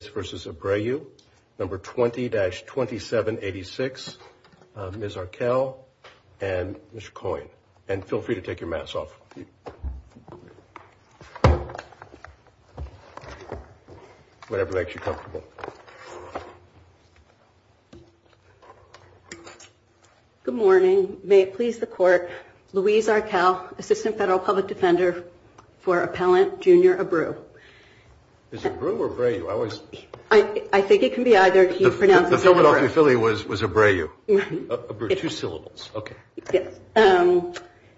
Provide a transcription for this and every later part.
v. Abreu, number 20-2786, Ms. Arkell and Mr. Coyne. And feel free to take your masks off. Whatever makes you comfortable. Good morning. May it please the court, Louise Arkell, Assistant Federal Public Defender for Appellant Junior Abreu. Is it Abreu or Abreu? I think it can be either. The Philadelphia Philly was Abreu.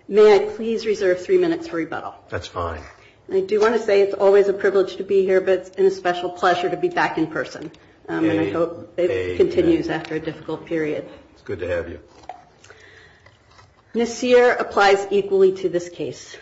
May I please reserve three minutes for rebuttal? That's fine. I do want to say it's always a privilege to be here, but it's a special pleasure to be back in person. And I hope it continues after a difficult period. It's good to have you. Nassir applies equally to this case.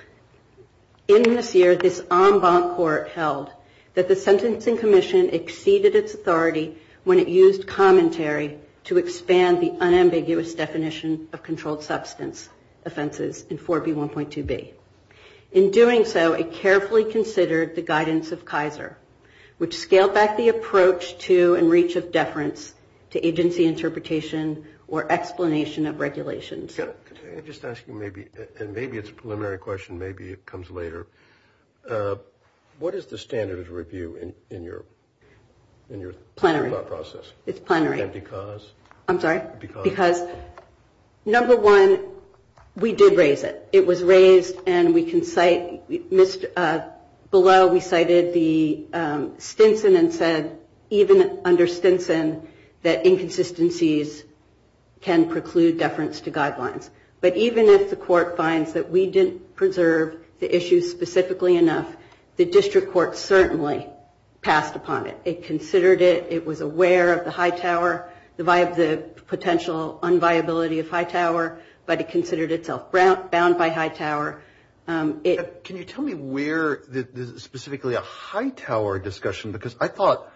In Nassir, this en banc court held that the Sentencing Commission exceeded its authority when it used commentary to expand the unambiguous definition of controlled substance offenses in 4B1.2b. In doing so, it carefully considered the guidance of Kaiser, which scaled back the approach to and reach of deference to agency interpretation or explanation of regulations. Can I just ask you maybe, and maybe it's a preliminary question, maybe it comes later. What is the standard of review in your process? It's plenary. And because? I'm sorry? Because? Because number one, we did raise it. It was raised and we can cite, missed, below we cited the Stinson and said even under Stinson that inconsistencies can preclude deference to guidelines. But even if the court finds that we didn't preserve the issue specifically enough, the district court certainly passed upon it. It considered it, it was aware of the Hightower, the potential unviability of Hightower, but it considered itself bound by Hightower. Can you tell me where specifically a Hightower discussion, because I thought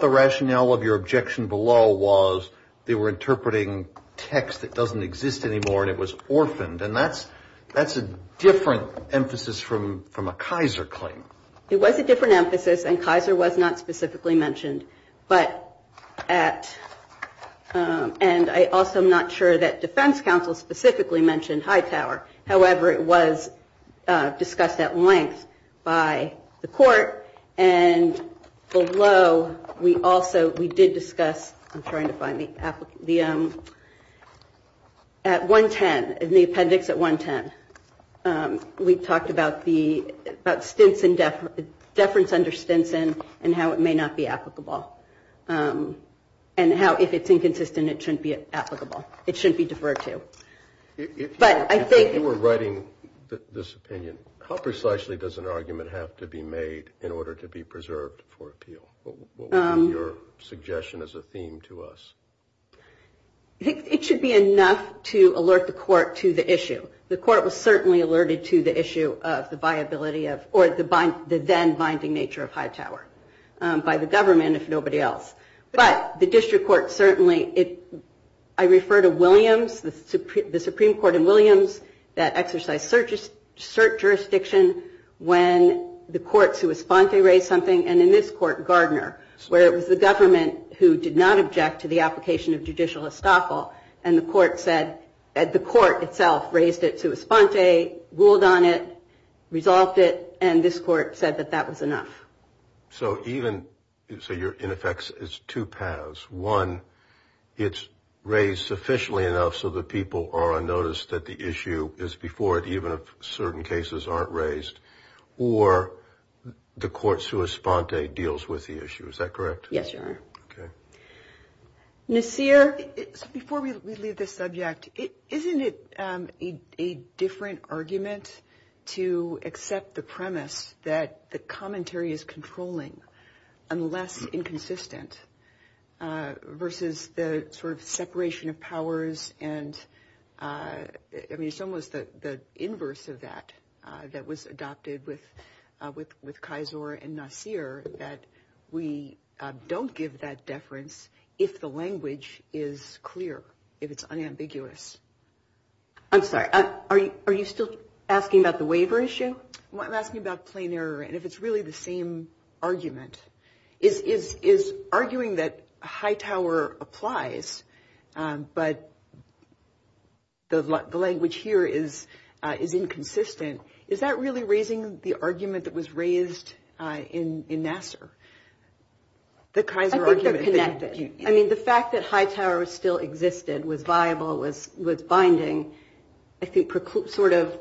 the rationale of your objection below was they were interpreting text that doesn't exist anymore and it was orphaned. And that's a different emphasis from a Kaiser claim. It was a different emphasis and Kaiser was not specifically mentioned. But at, and I also am not sure that defense counsel specifically mentioned Hightower. However, it was discussed at length by the court and below we also, we did discuss, I'm trying to find the, at 110, in the appendix at 110, we talked about the, about Stinson, deference under Stinson and how it may not be applicable. And how if it's inconsistent, it shouldn't be applicable. It shouldn't be deferred to. But I think. If you were writing this opinion, how precisely does an argument have to be made in order to be preserved for appeal? What would be your suggestion as a theme to us? It should be enough to alert the court to the issue. The court was certainly alerted to the viability of, or the then binding nature of Hightower by the government if nobody else. But the district court certainly, I refer to Williams, the Supreme Court in Williams that exercised cert jurisdiction when the court sui sponte raised something and in this court Gardner, where it was the government who did not object to the application of judicial estoffel and the court said, the court itself raised it sui sponte, ruled on it, resolved it, and this court said that that was enough. So even, so you're in effect, it's two paths. One, it's raised sufficiently enough so that people are on notice that the issue is before it, even if certain cases aren't raised, or the court sui sponte deals with the issue. Is that correct? Yes, Your Honor. Okay. Nasir? Before we leave this subject, isn't it a different argument to accept the premise that the commentary is controlling, unless inconsistent, versus the sort of separation of powers and, I mean, it's almost the inverse of that, that was adopted with Kaiser and Nasir, that we don't give that deference if the language is clear, if it's unambiguous. I'm sorry, are you still asking about the waiver issue? I'm asking about plain error and if it's really the same argument. Is arguing that Hightower applies, but the language here is inconsistent, is that really raising the argument that was raised in Nasir? The Kaiser argument that you... I think they're connected. I mean, the fact that Hightower still existed, was viable, was binding, I think sort of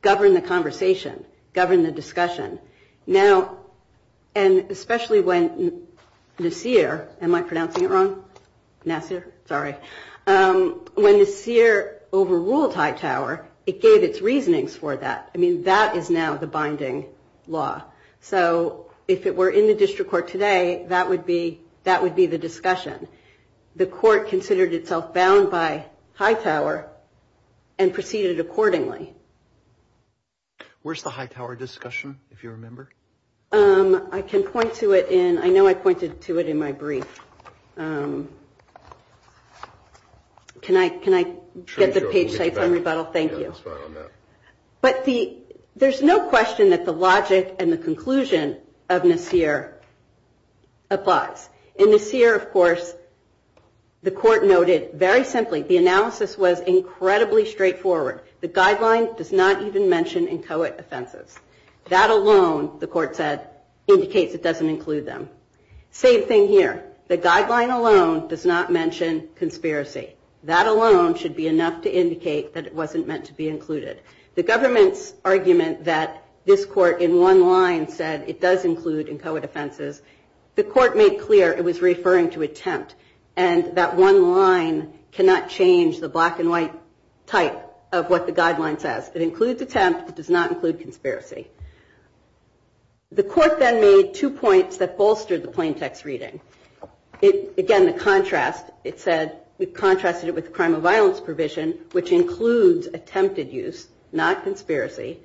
governed the conversation, governed the discussion. Now, and especially when Nasir, am I pronouncing it wrong? Nasir? Sorry. When Nasir overruled Hightower, it gave its reasonings for that. I mean, that is now the binding law. So if it were in the district court today, that would be the discussion. The court considered itself bound by Hightower and proceeded accordingly. Where's the Hightower discussion, if you remember? I can point to it in, I know I pointed to it in my brief. Can I get the page saved for rebuttal? Thank you. But there's no question that the logic and the conclusion of Nasir applies. In Nasir, of course, the court noted very simply, the analysis was incredibly straightforward. The guideline does not even mention inchoate offenses. That alone, the court said, indicates it doesn't include them. Same thing here. The guideline alone does not mention conspiracy. That alone should be enough to indicate that it wasn't meant to be included. The government's argument that this court in one line said it does include inchoate offenses, the court made clear it was referring to attempt. And that one line cannot change the black and white type of what the guideline says. It includes attempt. It does not include conspiracy. The court then made two points that bolstered the plain text reading. Again, the contrast, it said, it contrasted it with the crime of violence provision, which includes attempted use, not conspiracy.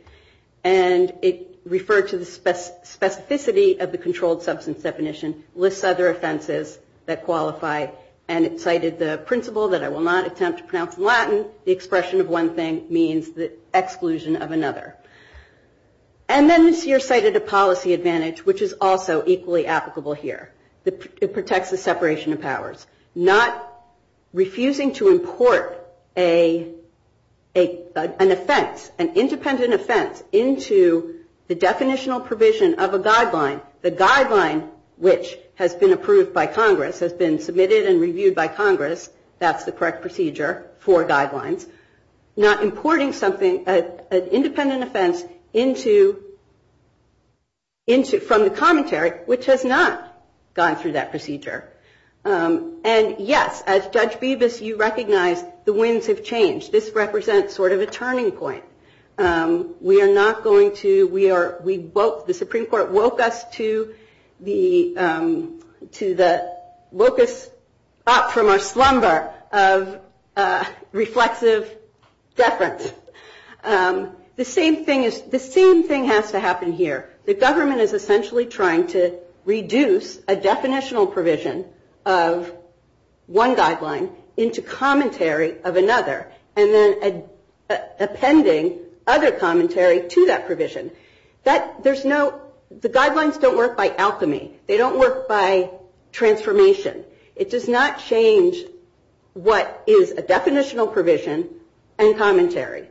And it referred to the specificity of the controlled substance definition, lists other offenses that qualify. And it cited the principle that I will not attempt to pronounce in Latin. The expression of one thing means that of another. And then this year cited a policy advantage, which is also equally applicable here. It protects the separation of powers. Not refusing to import an offense, an independent offense, into the definitional provision of a guideline. The guideline, which has been approved by Congress, has been submitted and reviewed by Congress. That's the correct procedure for guidelines. Not importing something, an independent offense, from the commentary, which has not gone through that procedure. And yes, as Judge Bibas, you recognize the winds have changed. This represents sort of a turning point. We are not going to, the Supreme Court woke us up from our slumber of reflexive deference. The same thing has to happen here. The government is essentially trying to reduce a definitional provision of one guideline into commentary of another. And then appending other commentary to that provision. The guidelines don't work by alchemy. They don't work by definitional provision and commentary.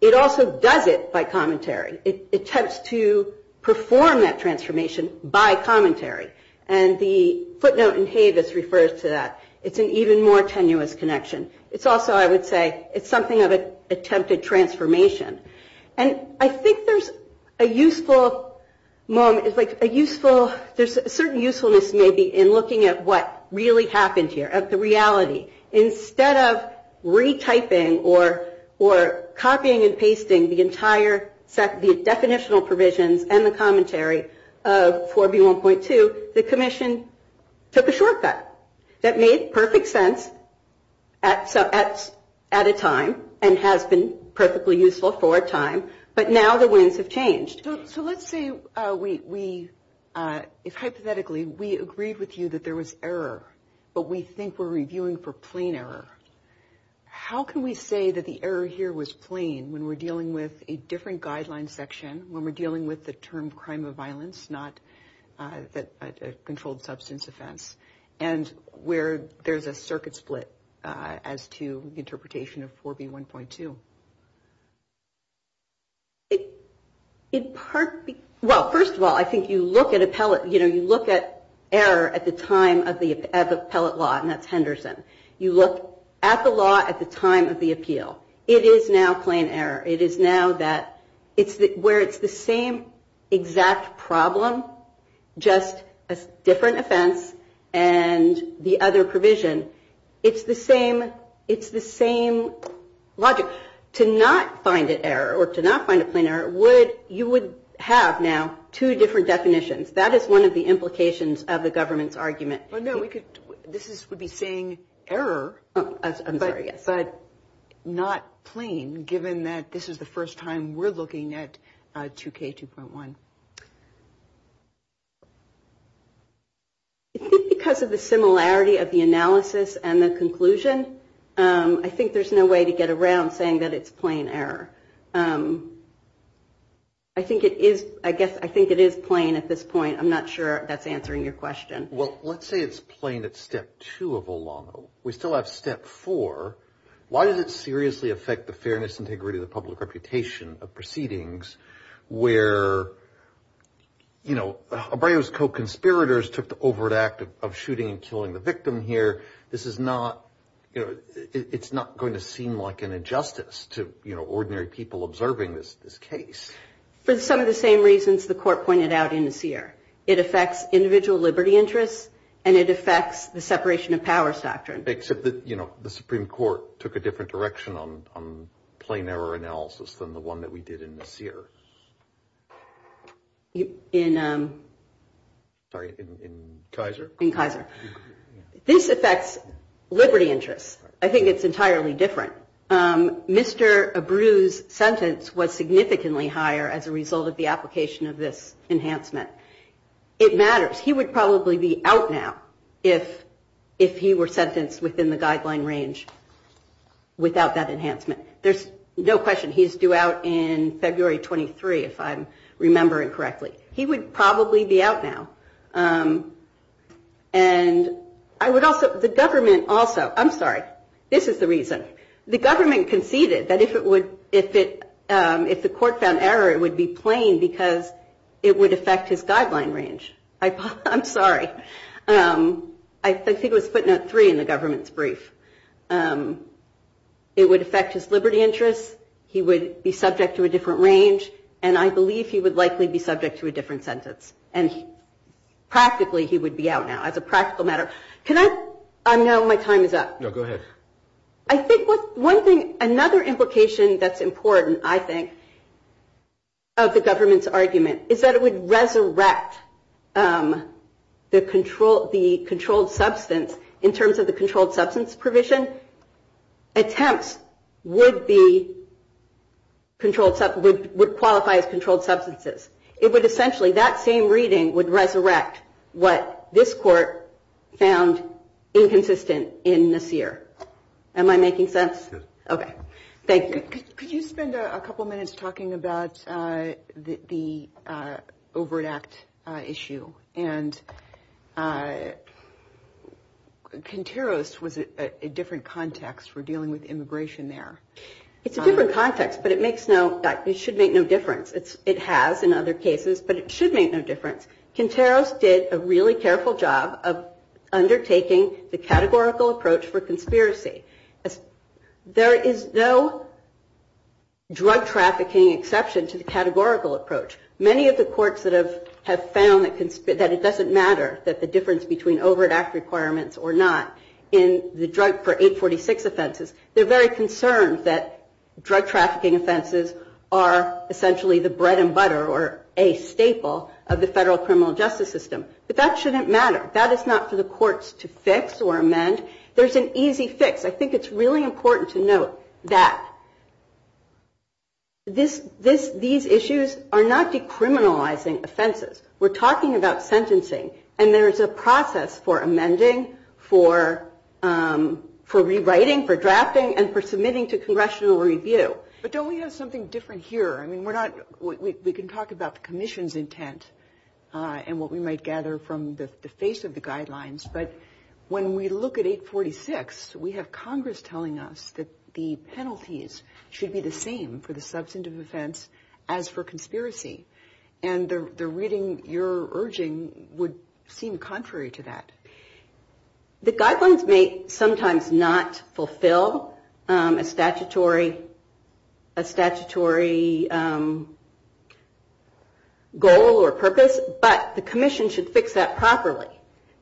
It also does it by commentary. It attempts to perform that transformation by commentary. And the footnote in Havis refers to that. It's an even more tenuous connection. It's also, I would say, it's something of an attempted transformation. And I think there's a useful moment, there's a certain usefulness maybe in looking at what really happened here, at the reality. Instead of retyping or copying and pasting the entire set, the definitional provisions and the commentary of 4B1.2, the commission took a shortcut that made perfect sense at a time and has been perfectly useful for a time. But now the we, hypothetically, we agreed with you that there was error, but we think we're reviewing for plain error. How can we say that the error here was plain when we're dealing with a different guideline section, when we're dealing with the term crime of violence, not a controlled substance offense, and where there's a circuit split as to interpretation of 4B1.2? Well, first of all, I think you look at error at the time of the appellate law, and that's Henderson. You look at the law at the time of the appeal. It is now plain error. It is now that, where it's the same logic. To not find an error, or to not find a plain error, you would have now two different definitions. That is one of the implications of the government's argument. No, this would be saying error, but not plain, given that this is the first time we're looking at 2K2.1. I think because of the similarity of the analysis and the conclusion, I think there's no way to get around saying that it's plain error. I think it is, I guess, I think it is plain at this point. I'm not sure that's answering your question. Well, let's say it's plain at step two of OLAMO. We still have step four. Why does it seriously affect the You know, Abreu's co-conspirators took the overt act of shooting and killing the victim here. This is not, you know, it's not going to seem like an injustice to, you know, ordinary people observing this case. For some of the same reasons the court pointed out in the Sear. It affects individual liberty interests, and it affects the separation of powers doctrine. Except that, you know, the Supreme Court took a different direction on plain error analysis than the one that we did in the Sear. In Kaiser? In Kaiser. This affects liberty interests. I think it's entirely different. Mr. Abreu's sentence was significantly higher as a result of the application of this enhancement. It matters. He would probably be out now if he were sentenced within the guideline range without that enhancement. There's no question he's due out in February 23, if I'm remembering correctly. He would probably be out now. And I would also, the government also, I'm sorry, this is the reason. The government conceded that if it would, if it, if the court found error, it would be plain because it would affect his guideline range. I'm sorry. I think it was footnote three in the government's brief. It would affect his liberty interests. He would be subject to a different range. And I believe he would likely be subject to a different sentence. And practically he would be out now as a practical matter. Can I, now my time is up. No, go ahead. I think what, one thing, another implication that's important, I think, of the government's argument is that it would resurrect the controlled substance in terms of the controlled substance provision. Attempts would be, would qualify as controlled substances. It would essentially, that same reading would resurrect what this court found inconsistent in Nasir. Am I making sense? Yes. Okay. Thank you. Could you spend a couple minutes talking about the Overt Act issue? And Conteros was a different context for dealing with immigration there. It's a different context, but it makes no, it should make no difference. It has in other cases, but it should make no difference. Conteros did a really careful job of undertaking the categorical approach for conspiracy. There is no drug trafficking exception to the categorical approach. Many of the courts that have found that it doesn't matter that the difference between Overt Act requirements or not in the drug per 846 offenses, they're very concerned that drug trafficking offenses are essentially the bread and butter or a staple of the federal criminal justice system. But that shouldn't matter. That is not for the courts to fix or amend. There's an easy fix. I think it's really important to note that these issues are not decriminalizing offenses. We're talking about sentencing. And there's a process for amending, for rewriting, for drafting, and for submitting to congressional review. But don't we have something different here? I mean, we're not, we can talk about the commission's intent and what we might gather from the face of the guidelines. But when we look at 846, we have Congress telling us that the penalties should be the same for the substantive offense as for conspiracy. And the reading you're urging would seem contrary to that. The guidelines may sometimes not fulfill a statutory goal or purpose, but the commission should fix that properly.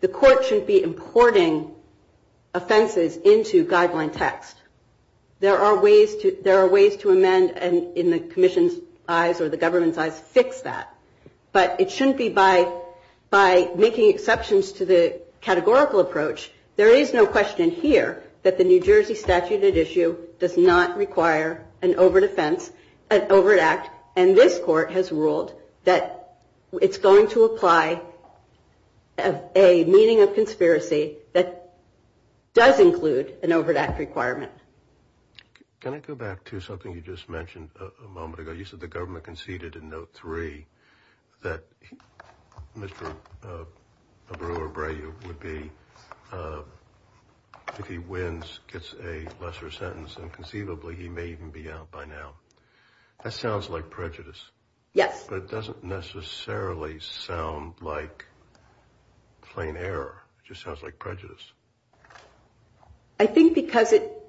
The court shouldn't be importing offenses into guideline text. There are ways to amend, and in the commission's eyes or the government's eyes, fix that. But it shouldn't be by making exceptions to the categorical approach. There is no question here that the New Jersey statute at issue does not require an overt offense, an overt act. And this court has ruled that it's going to apply a meaning of conspiracy that does include an overt act Can I go back to something you just mentioned a moment ago? You said the government conceded in note three that Mr. Abreu would be, if he wins, gets a lesser sentence and conceivably he may even be out by now. That sounds like prejudice. Yes. But it doesn't necessarily sound like plain error. It just sounds like It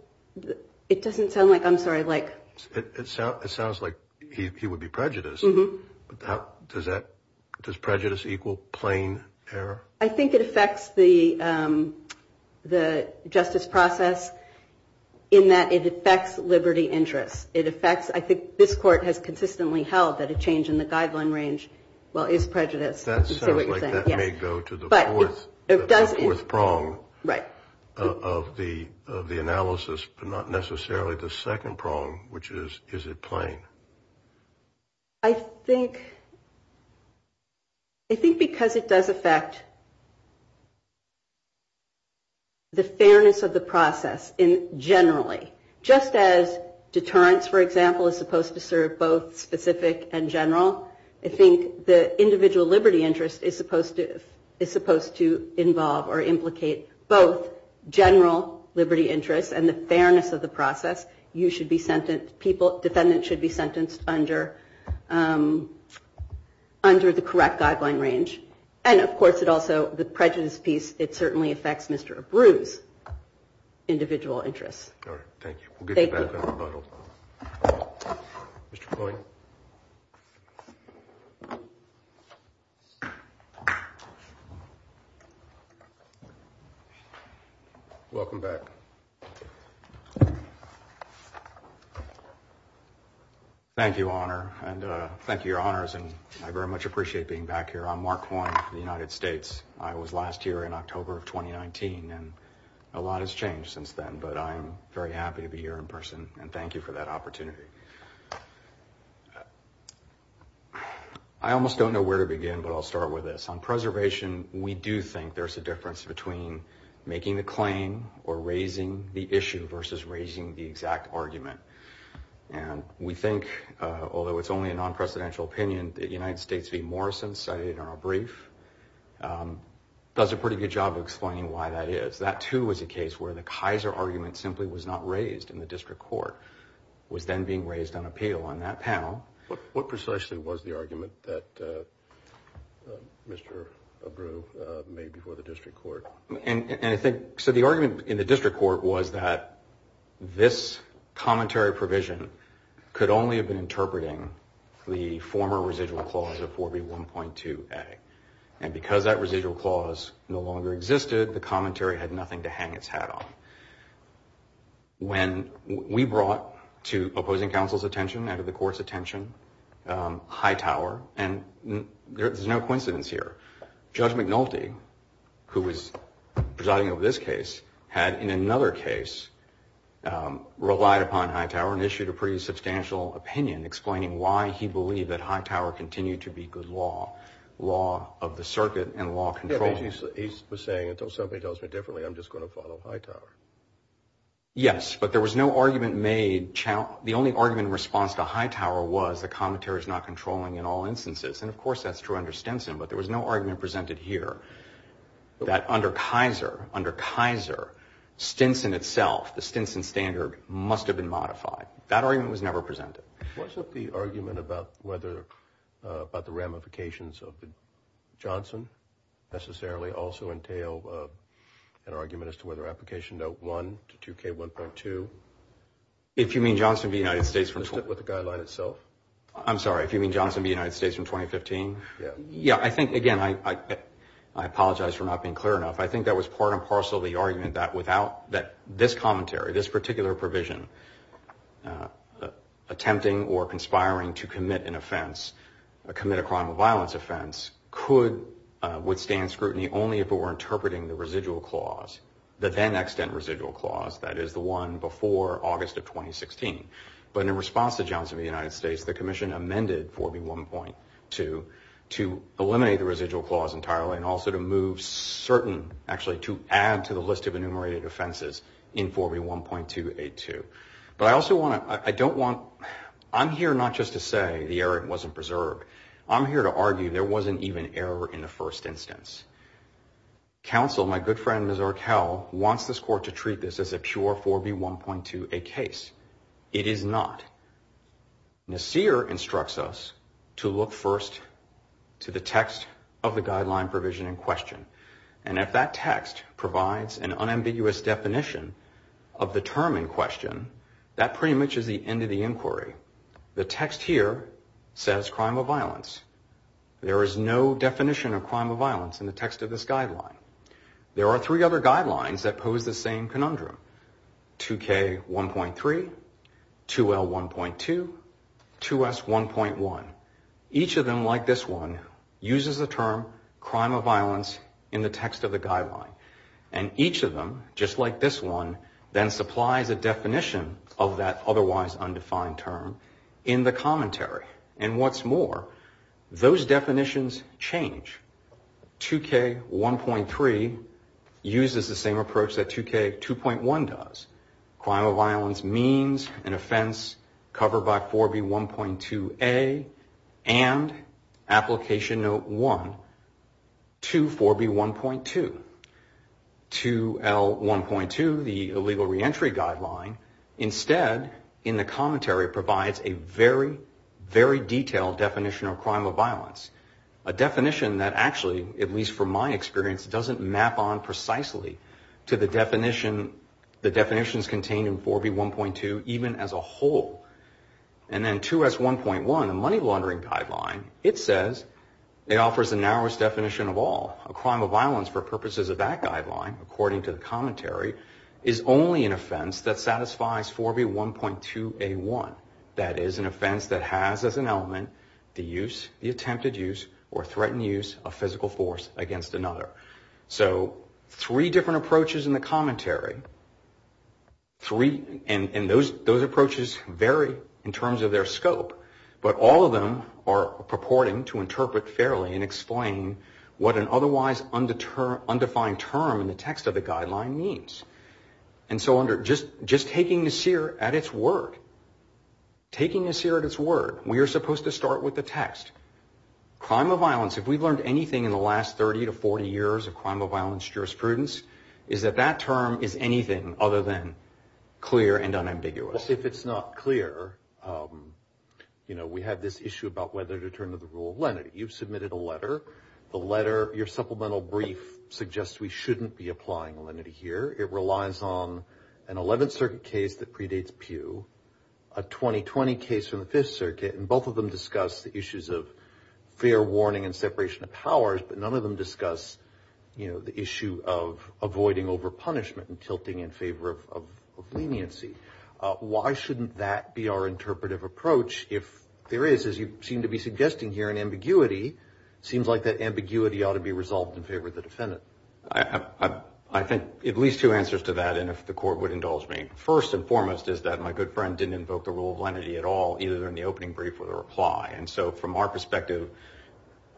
doesn't sound like, I'm sorry, like. It sounds like he would be prejudiced. Does prejudice equal plain error? I think it affects the justice process in that it affects liberty interests. It affects, I think this court has consistently held that a change in the guideline range, well, is prejudice. That sounds like that may go to the fourth prong of the analysis, but not necessarily the second prong, which is, is it plain? I think because it does affect the fairness of the process generally. Just as deterrence, for example, is supposed to serve both specific and general, I think the individual liberty interest is supposed to involve or implicate both general liberty interests and the fairness of the process. You should be sentenced, people, defendants should be sentenced under the correct guideline range. And of course, it also, the prejudice piece, it certainly affects Mr. Abreu's individual interests. All right. Thank you. We'll get you back on the back here. I'm Mark Horn for the United States. I was last here in October of 2019 and a lot has changed since then, but I'm very happy to be here in person and thank you for that opportunity. I almost don't know where to begin, but I'll start with this. On preservation, we do think there's a difference between making the claim or raising the argument, which I cited in our brief, does a pretty good job of explaining why that is. That, too, was a case where the Kaiser argument simply was not raised in the district court. It was then being raised on appeal on that panel. What precisely was the argument that Mr. Abreu made before the district court? And I think, so the And because that residual clause no longer existed, the commentary had nothing to hang its hat on. When we brought to opposing counsel's attention and to the court's attention Hightower, and there's no coincidence here, Judge McNulty, who was presiding over this case, had in another case relied upon Hightower and issued a pretty substantial opinion explaining why he believed that Hightower continued to be good law, law of the circuit and law controlling. He was saying, until somebody tells me differently, I'm just going to follow Hightower. Yes, but there was no argument made. The only argument in response to Hightower was the commentary is not controlling in all instances. And, of course, that's true under Stinson, but there was no argument presented here that under Kaiser, under Kaiser, Stinson itself, the Stinson standard must have been modified. That argument was never presented. Was it the argument about whether, about the ramifications of Johnson necessarily also entail an argument as to whether application note one to 2K1.2? If you mean Johnson v. United States. With the guideline itself? I'm sorry, if you mean Johnson v. United States from 2015? Yeah. Yeah, I think, again, I apologize for not being clear enough. I think that was part and parcel of the argument that without, that this commentary, this particular provision, attempting or conspiring to commit an offense, commit a crime of violence offense, could withstand scrutiny only if it were interpreting the residual clause, the then-extent residual clause, that is the one before August of 2016. But in response to Johnson v. United States, the commission amended 4B1.2 to eliminate the residual clause entirely and also to move certain, actually to add to the list of enumerated offenses in 4B1.282. But I also want to, I don't want, I'm here not just to say the error but to treat this as a pure 4B1.2A case. It is not. Nassir instructs us to look first to the text of the guideline provision in question. And if that text provides an unambiguous definition of the term in question, that pretty much is the end of the inquiry. The text here says crime of violence. There is no other guidelines that pose the same conundrum. 2K1.3, 2L1.2, 2S1.1. Each of them, like this one, uses the term crime of violence in the text of the guideline. And each of them, just like this one, then supplies a definition of that otherwise undefined term in the commentary. And what's more, those use the same approach that 2K2.1 does. Crime of violence means an offense covered by 4B1.2A and Application Note 1 to 4B1.2. 2L1.2, the illegal reentry guideline, instead in the commentary provides a very, very detailed definition of crime of violence. A definition that actually, at least from my understanding, speaks precisely to the definitions contained in 4B1.2 even as a whole. And then 2S1.1, the money laundering guideline, it says it offers the narrowest definition of all. A crime of violence for purposes of that guideline, according to the commentary, is only an offense that satisfies 4B1.2A1. That is an offense that has as an element the use, the attempted use, or threatened use of physical force against another. So, three different approaches in the commentary, three, and those approaches vary in terms of their scope, but all of them are purporting to interpret fairly and explain what an otherwise undefined term in the text of the guideline means. And so under, just taking the seer at its word, taking the seer at its word, we are supposed to start with the text. Crime of violence, if we've learned anything in the last 30 to 40 years of crime of violence jurisprudence, is that that the letter, your supplemental brief, suggests we shouldn't be applying lenity here. It relies on an 11th Circuit case that predates Pew, a 2020 case from the 5th Circuit, and both of them discuss the issues of fair warning and separation of powers, but none of them discuss, you know, the issue of avoiding over-punishment and tilting in favor of leniency. Why shouldn't that be our interpretive approach if there is, as you seem to be suggesting here in ambiguity, seems like that ambiguity ought to be resolved in favor of the defendant? I think at least two answers to that, and if the court would indulge me. First and foremost is that my good friend didn't invoke the rule of lenity at all, either in the opening brief or the reply, and so from our perspective,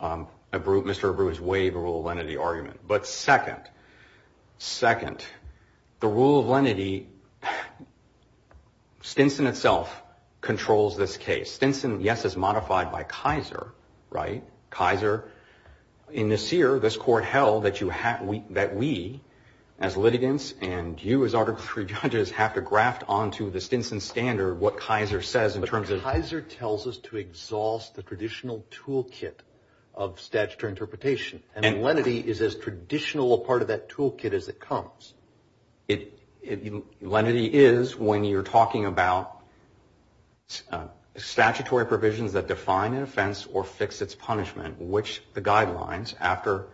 Mr. Abreu is way the rule of lenity argument. But second, second, the rule of lenity, Stinson itself controls this case. Stinson, yes, is right. Kaiser, in this year, this court held that we, as litigants, and you as Article III judges, have to graft onto the Stinson standard what Kaiser says in terms of... But Kaiser tells us to exhaust the traditional toolkit of statutory interpretation, and lenity is as traditional a part of that which the guidelines after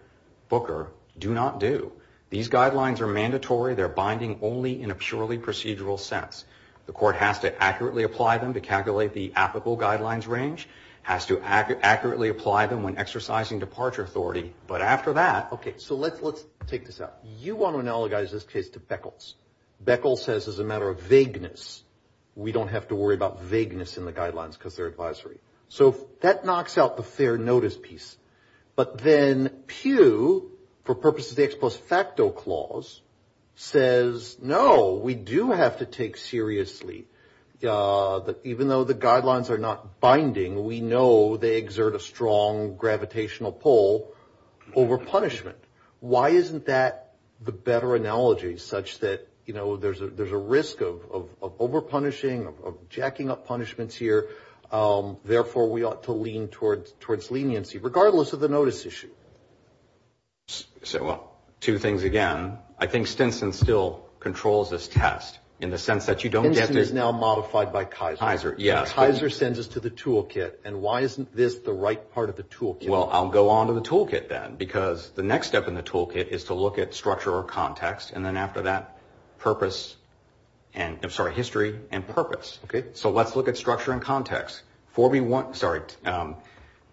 Booker do not do. These guidelines are mandatory. They're binding only in a purely procedural sense. The court has to accurately apply them to calculate the applicable guidelines range, has to accurately apply them when exercising departure authority, but after that... Okay, so let's take this out. You want to analogize this case to Beckles. Beckles says as a matter of vagueness, we don't have to worry about vagueness in the guidelines because they're advisory. So that knocks out the fair notice piece. But then Pew, for purposes of the ex post facto clause, says no, we do have to take seriously, even though the guidelines are not binding, we know they exert a strong gravitational pull over punishment. Why isn't that the better analogy such that there's a risk of over punishing, of jacking up punishments here, therefore we ought to lean towards leniency, regardless of the notice issue? Well, two things again. I think Stinson still controls this test in the sense that you don't get to... Stinson is now modified by Kaiser. Kaiser sends us to the toolkit, and why isn't this the right part of the toolkit? Well, I'll go on to the toolkit then, because the next step in the toolkit is to look at structure or context, and then after that, history and purpose. So let's look at structure and context. Again,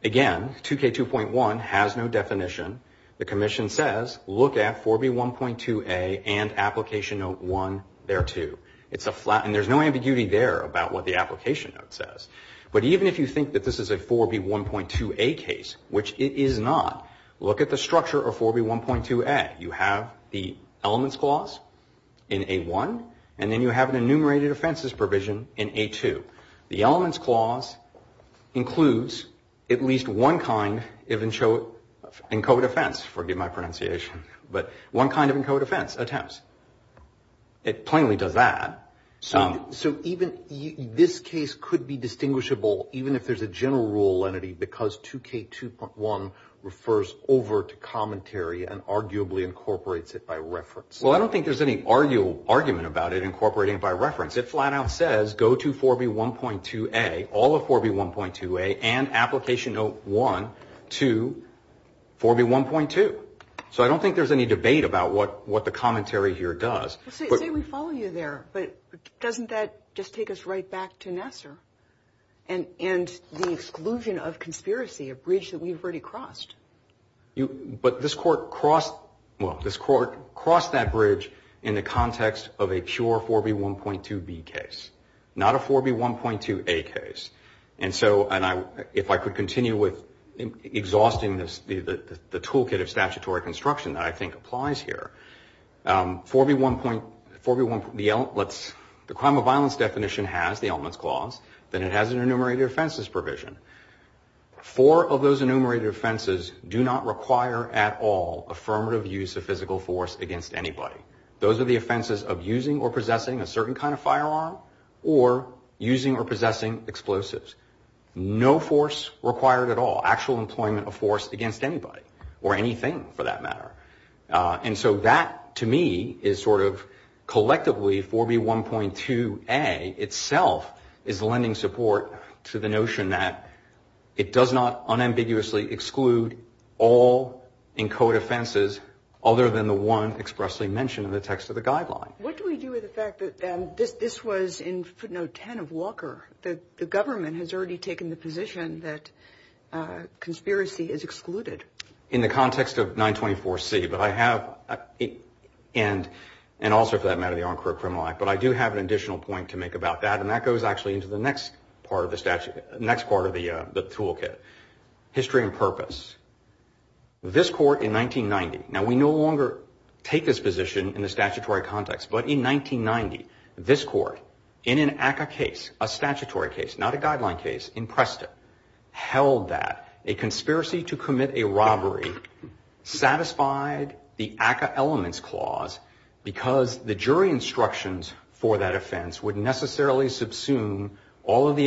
2K2.1 has no definition. The commission says, look at 4B1.2A and application note one, there too. And there's no ambiguity there about what the application note says. But even if you think that this is a 4B1.2A case, which it is not, look at the structure of 4B1.2A. You have the elements clause in A1, and then you have an enumerated offenses provision in A2. The elements clause includes at least one kind of encode offense, forgive my pronunciation, but one kind of encode offense attempts. It plainly does that. So even this case could be distinguishable, even if there's a general rule entity, because 2K2.1 refers over to commentary and arguably incorporates it by reference. Well, I don't think there's any argument about it incorporating it by reference. It flat out says, go to 4B1.2A, all of 4B1.2A and application note one to 4B1.2. So I don't think there's any debate about what the commentary here does. Say we follow you there, but doesn't that just take us right back to Nassar and the exclusion of conspiracy, a bridge that we've already crossed? But this court crossed that bridge in the context of a pure 4B1.2B case, not a 4B1.2A case. And so if I could continue with exhausting the toolkit of statutory construction that I think applies here, the crime of violence definition has the elements clause, then it has an enumerated offenses provision. Four of those enumerated offenses do not require at all affirmative use of physical force against anybody. Those are the offenses of using or possessing a certain kind of firearm or using or And so that to me is sort of collectively 4B1.2A itself is lending support to the notion that it does not unambiguously exclude all encoded offenses other than the one expressly mentioned in the text of the guideline. What do we do with the fact that this was in footnote ten of Walker, that the government has already taken the position that conspiracy is excluded? In the context of 924C, but I have, and also for that matter the Unquote Criminal Act, but I do have an additional point to make about that, and that goes actually into the next part of the toolkit. History and purpose. This court in 1990, now we no longer take this position in the statutory context, but in 1990, this court in an ACCA case, a statutory case, not a guideline case, in Preston, held that a conspiracy to commit a robbery satisfied the ACCA elements clause because the jury instructions for that offense would necessarily subsume all of the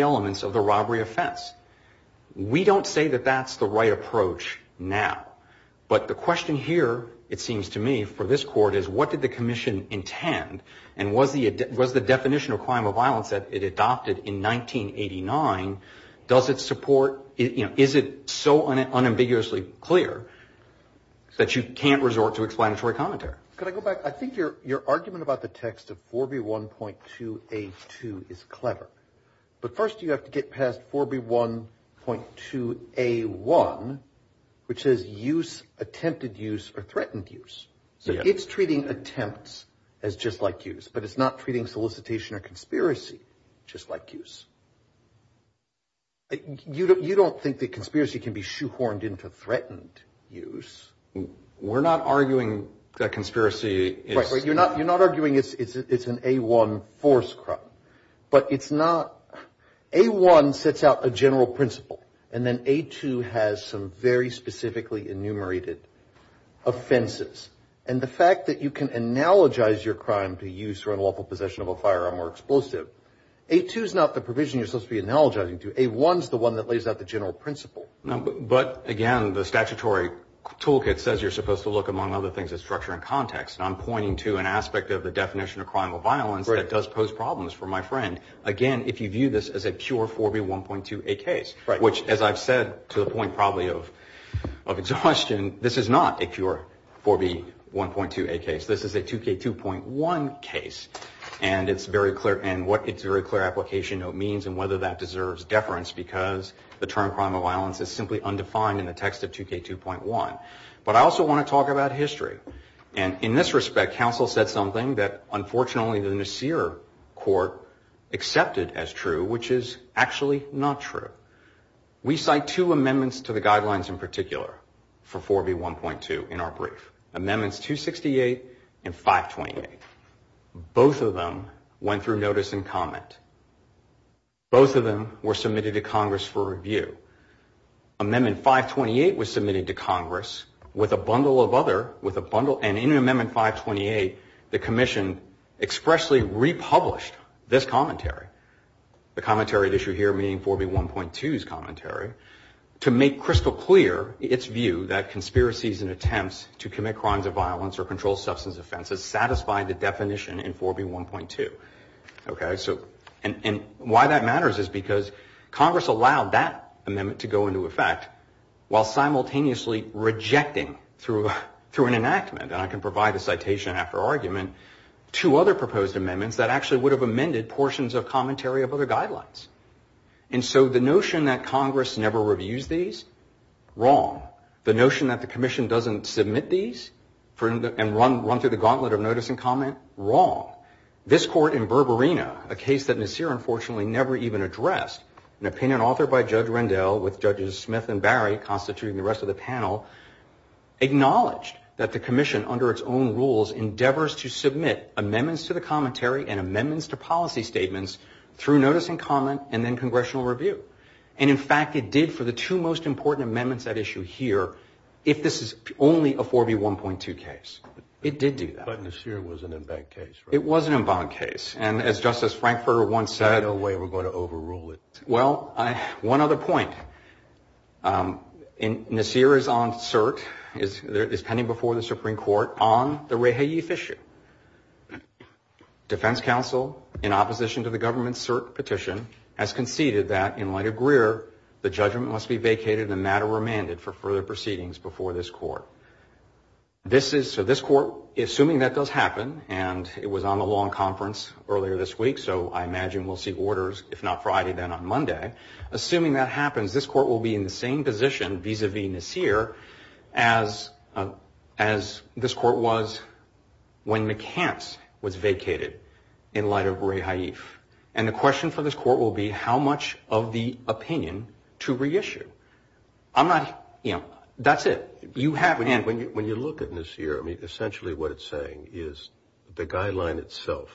commission intend, and was the definition of crime of violence that it adopted in 1989, does it support, you know, is it so unambiguously clear that you can't resort to explanatory commentary? Could I go back? I think your argument about the text of 4B1.2A2 is clever, but first you have to get past 4B1.2A1, which says use, attempted use, or threatened use. So it's treating attempts as just like use, but it's not treating solicitation or conspiracy just like use. You don't think that conspiracy can be shoehorned into threatened use? We're not arguing that conspiracy is... Right, you're not arguing it's an A1 force crime, but it's not... A1 sets out a general principle, and then A2 has some very specifically enumerated offenses, and the fact that you can analogize your crime to use for unlawful possession of a firearm or explosive, A2 is not the provision you're supposed to be analogizing to. A1 is the one that lays out the general principle. But, again, the statutory toolkit says you're supposed to look, among other things, at structure and context, and I'm pointing to an aspect of the definition of crime of violence that does pose problems for my friend. Again, if you view this as a pure 4B1.2A case, which, as I've said to the point probably of exhaustion, this is not a pure 4B1.2A case. This is a 2K2.1 case, and it's very clear, and what it's very clear application means and whether that deserves deference, because the term crime of violence is simply undefined in the text of 2K2.1. But I also want to talk about history, and in this respect, counsel said something that, unfortunately, the Nasir court accepted as true, which is actually not true. We cite two amendments to the guidelines in particular for 4B1.2 in our brief. Amendments 268 and 528. Both of them went through notice and both of them were submitted to Congress for review. Amendment 528 was submitted to Congress with a bundle of other, with a bundle, and in amendment 528, the commission expressly republished this commentary, the commentary that you hear meaning 4B1.2's commentary, to make crystal clear its view that conspiracies and attempts to commit crimes of violence or control substance offenses satisfied the definition in 4B1.2. Okay, so, and why that matters is because Congress allowed that amendment to go into effect while simultaneously rejecting through an enactment, and I can provide a citation after argument, two other proposed amendments that actually would have amended portions of commentary of other guidelines. And so the notion that Congress never reviews these, wrong. The notion that the commission doesn't submit these and run through the gauntlet of notice and comment, wrong. This court in Berberina, a case that Nasir unfortunately never even addressed, an opinion authored by Judge Rendell with Judges Smith and Barry constituting the rest of the panel, acknowledged that the commission under its own rules endeavors to submit amendments to the commentary and amendments to policy statements through notice and comment and then congressional review. And in fact, it did for the two most important amendments at issue here, if this is only a 4B1.2 case. It did do that. But Nasir was an embanked case, right? It was an embanked case. And as Justice Frankfurter once said. There's no way we're going to overrule it. Well, one other point. Nasir is on cert, is pending before the Supreme Court on the Reha Youth issue. Defense counsel, in opposition to the government's cert petition, has conceded that in light of Greer, the judgment must be vacated and matter remanded for further proceedings before this court. This is, so this court, assuming that does happen, and it was on a long conference earlier this week, so I imagine we'll see orders, if not Friday, then on Monday. Assuming that happens, this court will be in the same position vis-a-vis Nasir as this court was when McCance was vacated in light of Reha Youth. And the question for this court will be how much of the opinion to reissue. I'm not, you know, that's it. You have. When you look at Nasir, I mean, essentially what it's saying is the guideline itself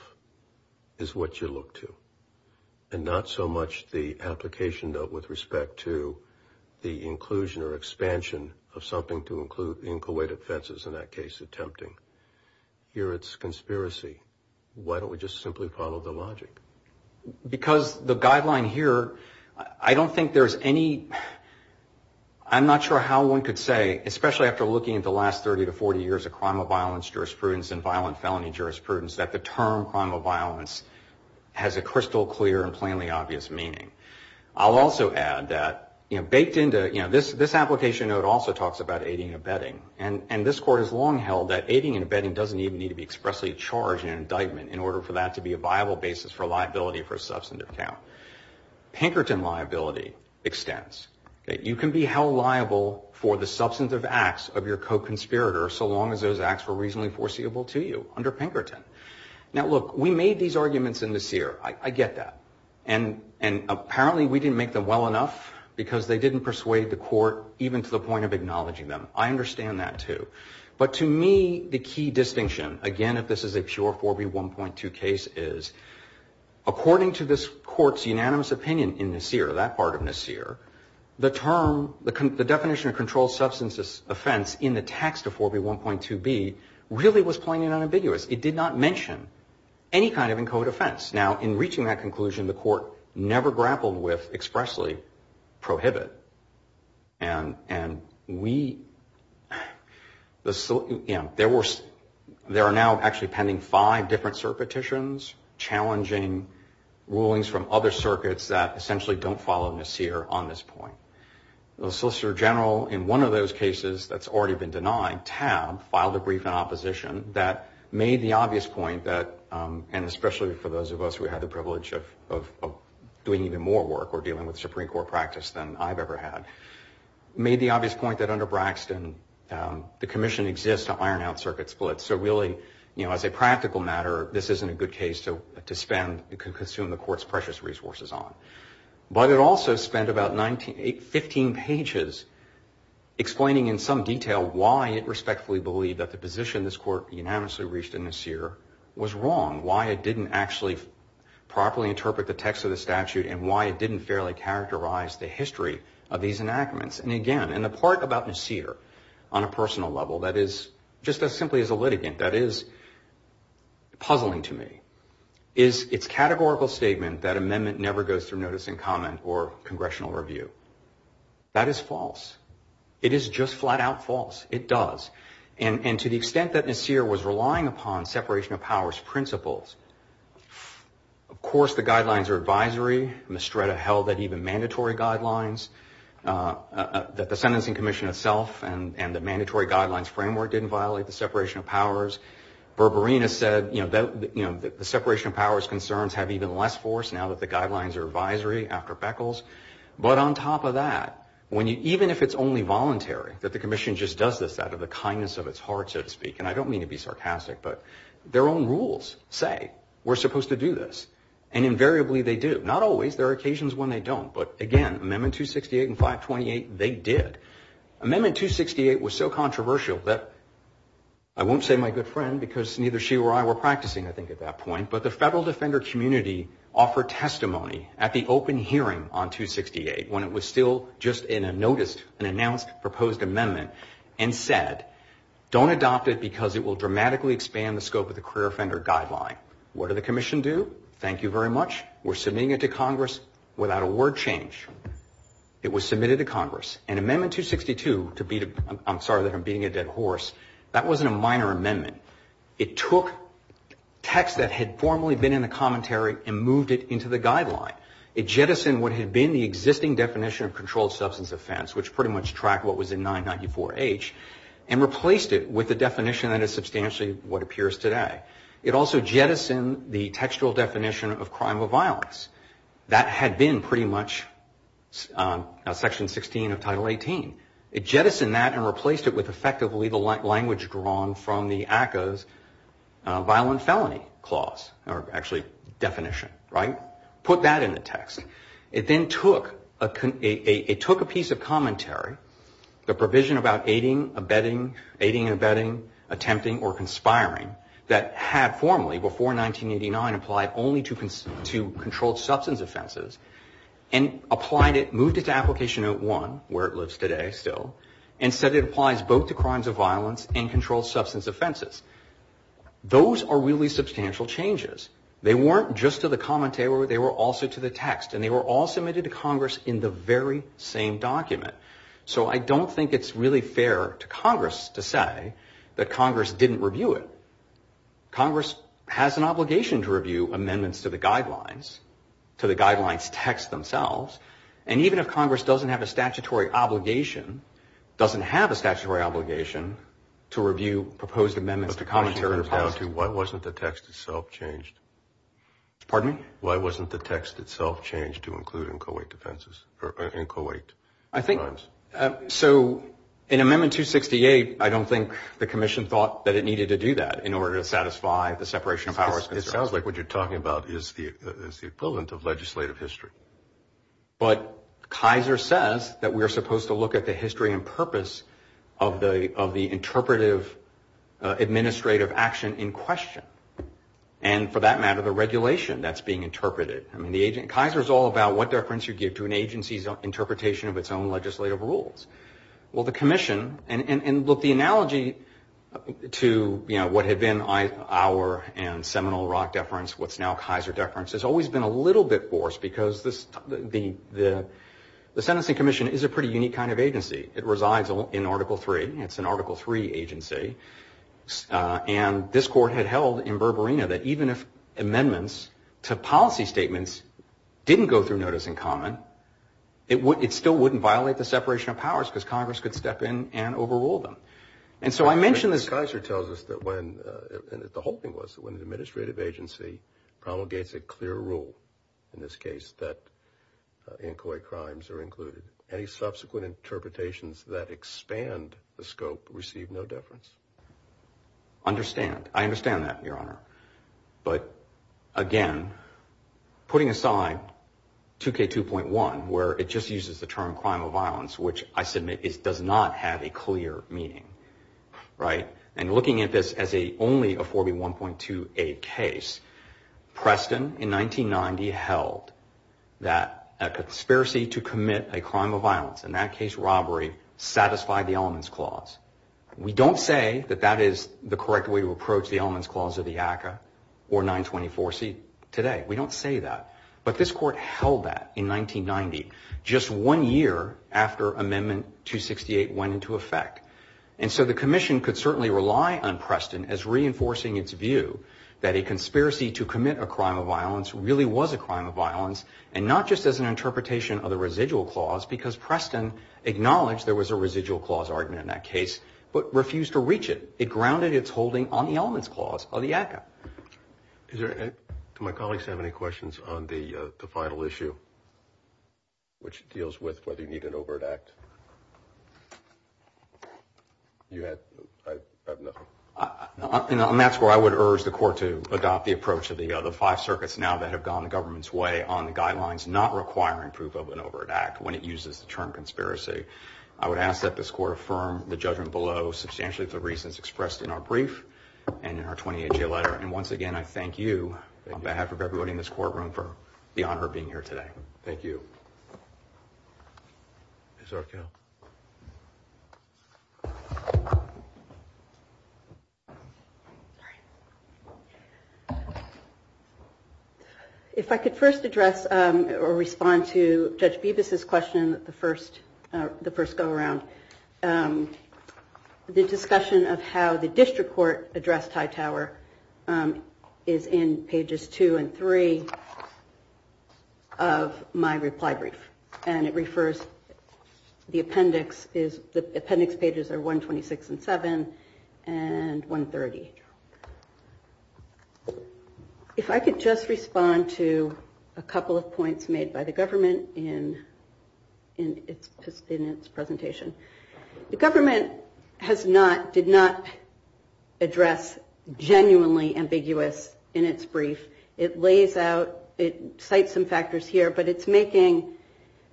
is what you look to. And not so much the application, though, with respect to the inclusion or expansion of something to include in Kuwait offenses, in that case, attempting. Here it's conspiracy. Why don't we just simply follow the logic? Because the guideline here, I don't think there's any, I'm not sure how one could say, especially after looking at the last 30 to 40 years of crime of violence jurisprudence and violent felony jurisprudence, that the term crime of violence has a crystal clear and plainly obvious meaning. I'll also add that, you know, baked into, you know, this application note also talks about aiding and abetting. And this court has long held that aiding and abetting doesn't even need to be expressly charged in an indictment in order for that to be a viable basis for liability for a substantive count. Pinkerton liability extends. You can be held liable for the substantive acts of your co-conspirator so long as those acts were reasonably foreseeable to you under Pinkerton. Now, look, we made these arguments in Nasir. I get that. And apparently we didn't make them well enough because they didn't persuade the court even to the point of acknowledging them. I understand that, too. But to me, the key distinction, again, if this is a pure 4B1.2 case, is according to this court's unanimous opinion in Nasir, that part of Nasir, the term, the definition of controlled substance offense in the text of 4B1.2b really was plain and unambiguous. It did not mention any kind of in code offense. Now, in reaching that conclusion, the court never grappled with expressly prohibit. And there are now actually pending five different cert petitions challenging rulings from other circuits that essentially don't follow Nasir on this point. The Solicitor General in one of those cases that's already been denied, TAB, filed a brief in opposition that made the obvious point that, and especially for those of us who had the privilege of doing even more work or dealing with Supreme Court practice than I've ever had, made the obvious point that under Braxton, the commission exists to iron out circuit splits. So really, you know, as a practical matter, this isn't a good case to spend, consume the court's precious resources on. But it also spent about 15 pages explaining in some detail why it respectfully believed that the position this court unanimously reached in Nasir was wrong, why it didn't actually properly interpret the text of the statute and why it didn't fairly characterize the history of these enactments. And again, and the part about Nasir on a personal level that is just as simply as a litigant, that is puzzling to me, is its categorical statement that amendment never goes through notice and comment or congressional review. That is false. It is just flat out false. It does. And to the extent that Nasir was relying upon separation of powers principles, of course the guidelines are advisory. Mestreda held that even mandatory guidelines, that the Sentencing Commission itself and the mandatory guidelines framework didn't violate the separation of powers. Berberina said, you know, the separation of powers concerns have even less force now that the guidelines are advisory after Beckles. But on top of that, even if it's only voluntary that the commission just does this out of the kindness of its heart, so to speak, and I don't mean to be sarcastic, but their own rules say we're supposed to do this. And invariably they do. Not always. There are occasions when they don't. But again, Amendment 268 and 528, they did. Amendment 268 was so controversial that I won't say my good friend because neither she or I were practicing, I think, at that point, but the federal defender community offered testimony at the open hearing on 268 when it was still just in a notice, an announced proposed amendment, and said, don't adopt it because it will dramatically expand the scope of the career offender guideline. What did the commission do? Thank you very much. We're submitting it to Congress without a word change. It was submitted to Congress. And Amendment 262, I'm sorry that I'm beating a dead horse, that wasn't a minor amendment. It took text that had formerly been in the commentary and moved it into the guideline. It jettisoned what had been the existing definition of controlled substance offense, which pretty much tracked what was in 994H, and replaced it with a definition that is substantially what appears today. It also jettisoned the textual definition of crime of violence. That had been pretty much Section 16 of Title 18. It jettisoned that and replaced it with effectively the language drawn from the ACCA's violent felony clause, or actually definition. Put that in the text. It then took a piece of commentary, the provision about aiding, abetting, attempting or conspiring, that had formerly, before 1989, applied only to controlled substance offenses, and applied it, moved it to Application Note 1, where it lives today still, and said it applies both to crimes of violence and controlled substance offenses. Those are really substantial changes. They weren't just to the commentary, they were also to the text. And they were all submitted to Congress in the very same document. So I don't think it's really fair to Congress to say that Congress didn't review it. Congress has an obligation to review amendments to the guidelines, to the guidelines text themselves, and even if Congress doesn't have a statutory obligation, doesn't have a statutory obligation, to review proposed amendments to commentary. Why wasn't the text itself changed? Pardon me? Why wasn't the text itself changed to include in Co-8 defenses, or in Co-8 crimes? So in Amendment 268, I don't think the Commission thought that it needed to do that in order to satisfy the separation of powers. It sounds like what you're talking about is the equivalent of legislative history. But Kaiser says that we are supposed to look at the history and purpose of the interpretive administrative action in question, and for that matter, the regulation that's being interpreted. Kaiser is all about what deference you give to an agency's interpretation of its own legislative rules. Well, the Commission, and look, the analogy to what had been our and Seminole Rock deference, what's now Kaiser deference, has always been a little bit forced because the Sentencing Commission is a pretty unique kind of agency. It resides in Article III. It's an Article III agency, and this Court had held in Berberina that even if amendments to policy statements didn't go through notice in common, it still wouldn't violate the separation of powers because Congress could step in and overrule them. And so I mentioned this. Kaiser tells us that when – and the whole thing was that when an administrative agency promulgates a clear rule, in this case that inchoate crimes are included, any subsequent interpretations that expand the scope receive no deference. Understand. I understand that, Your Honor. But again, putting aside 2K2.1, where it just uses the term crime of violence, which I submit does not have a clear meaning, right, and looking at this as only a 4B1.2A case, Preston in 1990 held that a conspiracy to commit a crime of violence, in that case robbery, satisfied the elements clause. We don't say that that is the correct way to approach the elements clause of the ACCA or 924C today. We don't say that. But this Court held that in 1990, just one year after Amendment 268 went into effect. And so the Commission could certainly rely on Preston as reinforcing its view that a conspiracy to commit a crime of violence really was a crime of violence and not just as an interpretation of the residual clause because Preston acknowledged there was a residual clause argument in that case but refused to reach it. It grounded its holding on the elements clause of the ACCA. Do my colleagues have any questions on the final issue, which deals with whether you need an overt act? You have nothing. On that score, I would urge the Court to adopt the approach of the other five circuits now that have gone the government's way on the guidelines not requiring proof of an overt act when it uses the term conspiracy. I would ask that this Court affirm the judgment below substantially for reasons expressed in our brief and in our 28-J letter. And once again, I thank you on behalf of everybody in this courtroom for the honor of being here today. Thank you. Ms. Arquette. If I could first address or respond to Judge Bibas's question, the first go-around. The discussion of how the district court addressed Hightower is in pages 2 and 3 of my reply brief. And it refers, the appendix pages are 126 and 7 and 130. If I could just respond to a couple of points made by the government in its presentation. The government has not, did not address genuinely ambiguous in its brief. It lays out, it cites some factors here, but it's making,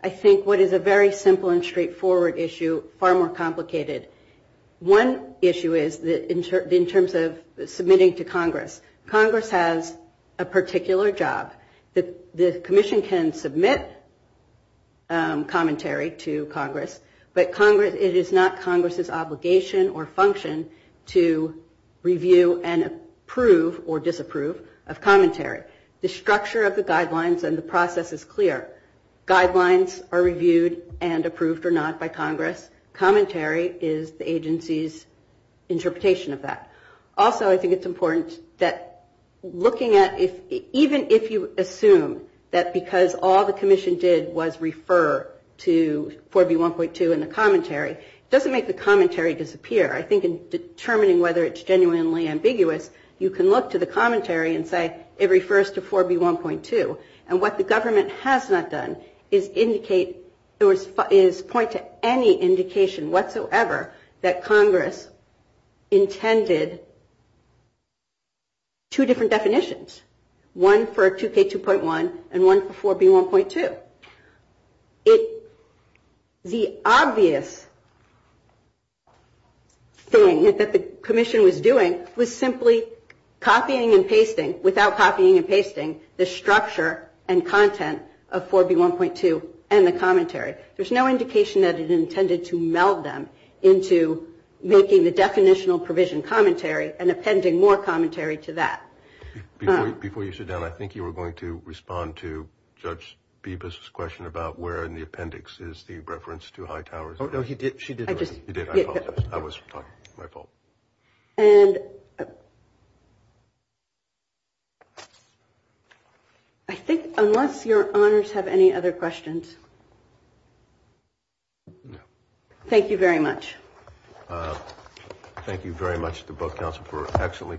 I think, what is a very simple and straightforward issue far more complicated. One issue is in terms of submitting to Congress. Congress has a particular job. It is not Congress's obligation or function to review and approve or disapprove of commentary. The structure of the guidelines and the process is clear. Guidelines are reviewed and approved or not by Congress. Commentary is the agency's interpretation of that. Also, I think it's important that looking at, even if you assume that because all the commission did was refer to 4B1.2 in the commentary, it doesn't make the commentary disappear. I think in determining whether it's genuinely ambiguous, you can look to the commentary and say, it refers to 4B1.2. And what the government has not done is indicate, is point to any indication whatsoever that Congress intended to refer to 4B1.2. It has indicated two different definitions, one for 2K2.1 and one for 4B1.2. The obvious thing that the commission was doing was simply copying and pasting, without copying and pasting, the structure and content of 4B1.2 and the commentary. There's no indication that it intended to meld them into making the definitional provision commentary and appending more commentary to that. Before you sit down, I think you were going to respond to Judge Bibas's question about where in the appendix is the reference to high towers. No, he did. She did. I apologize. I was talking. My fault. And I think unless your honors have any other questions, thank you very much. Thank you very much to both counsel for excellently presented arguments.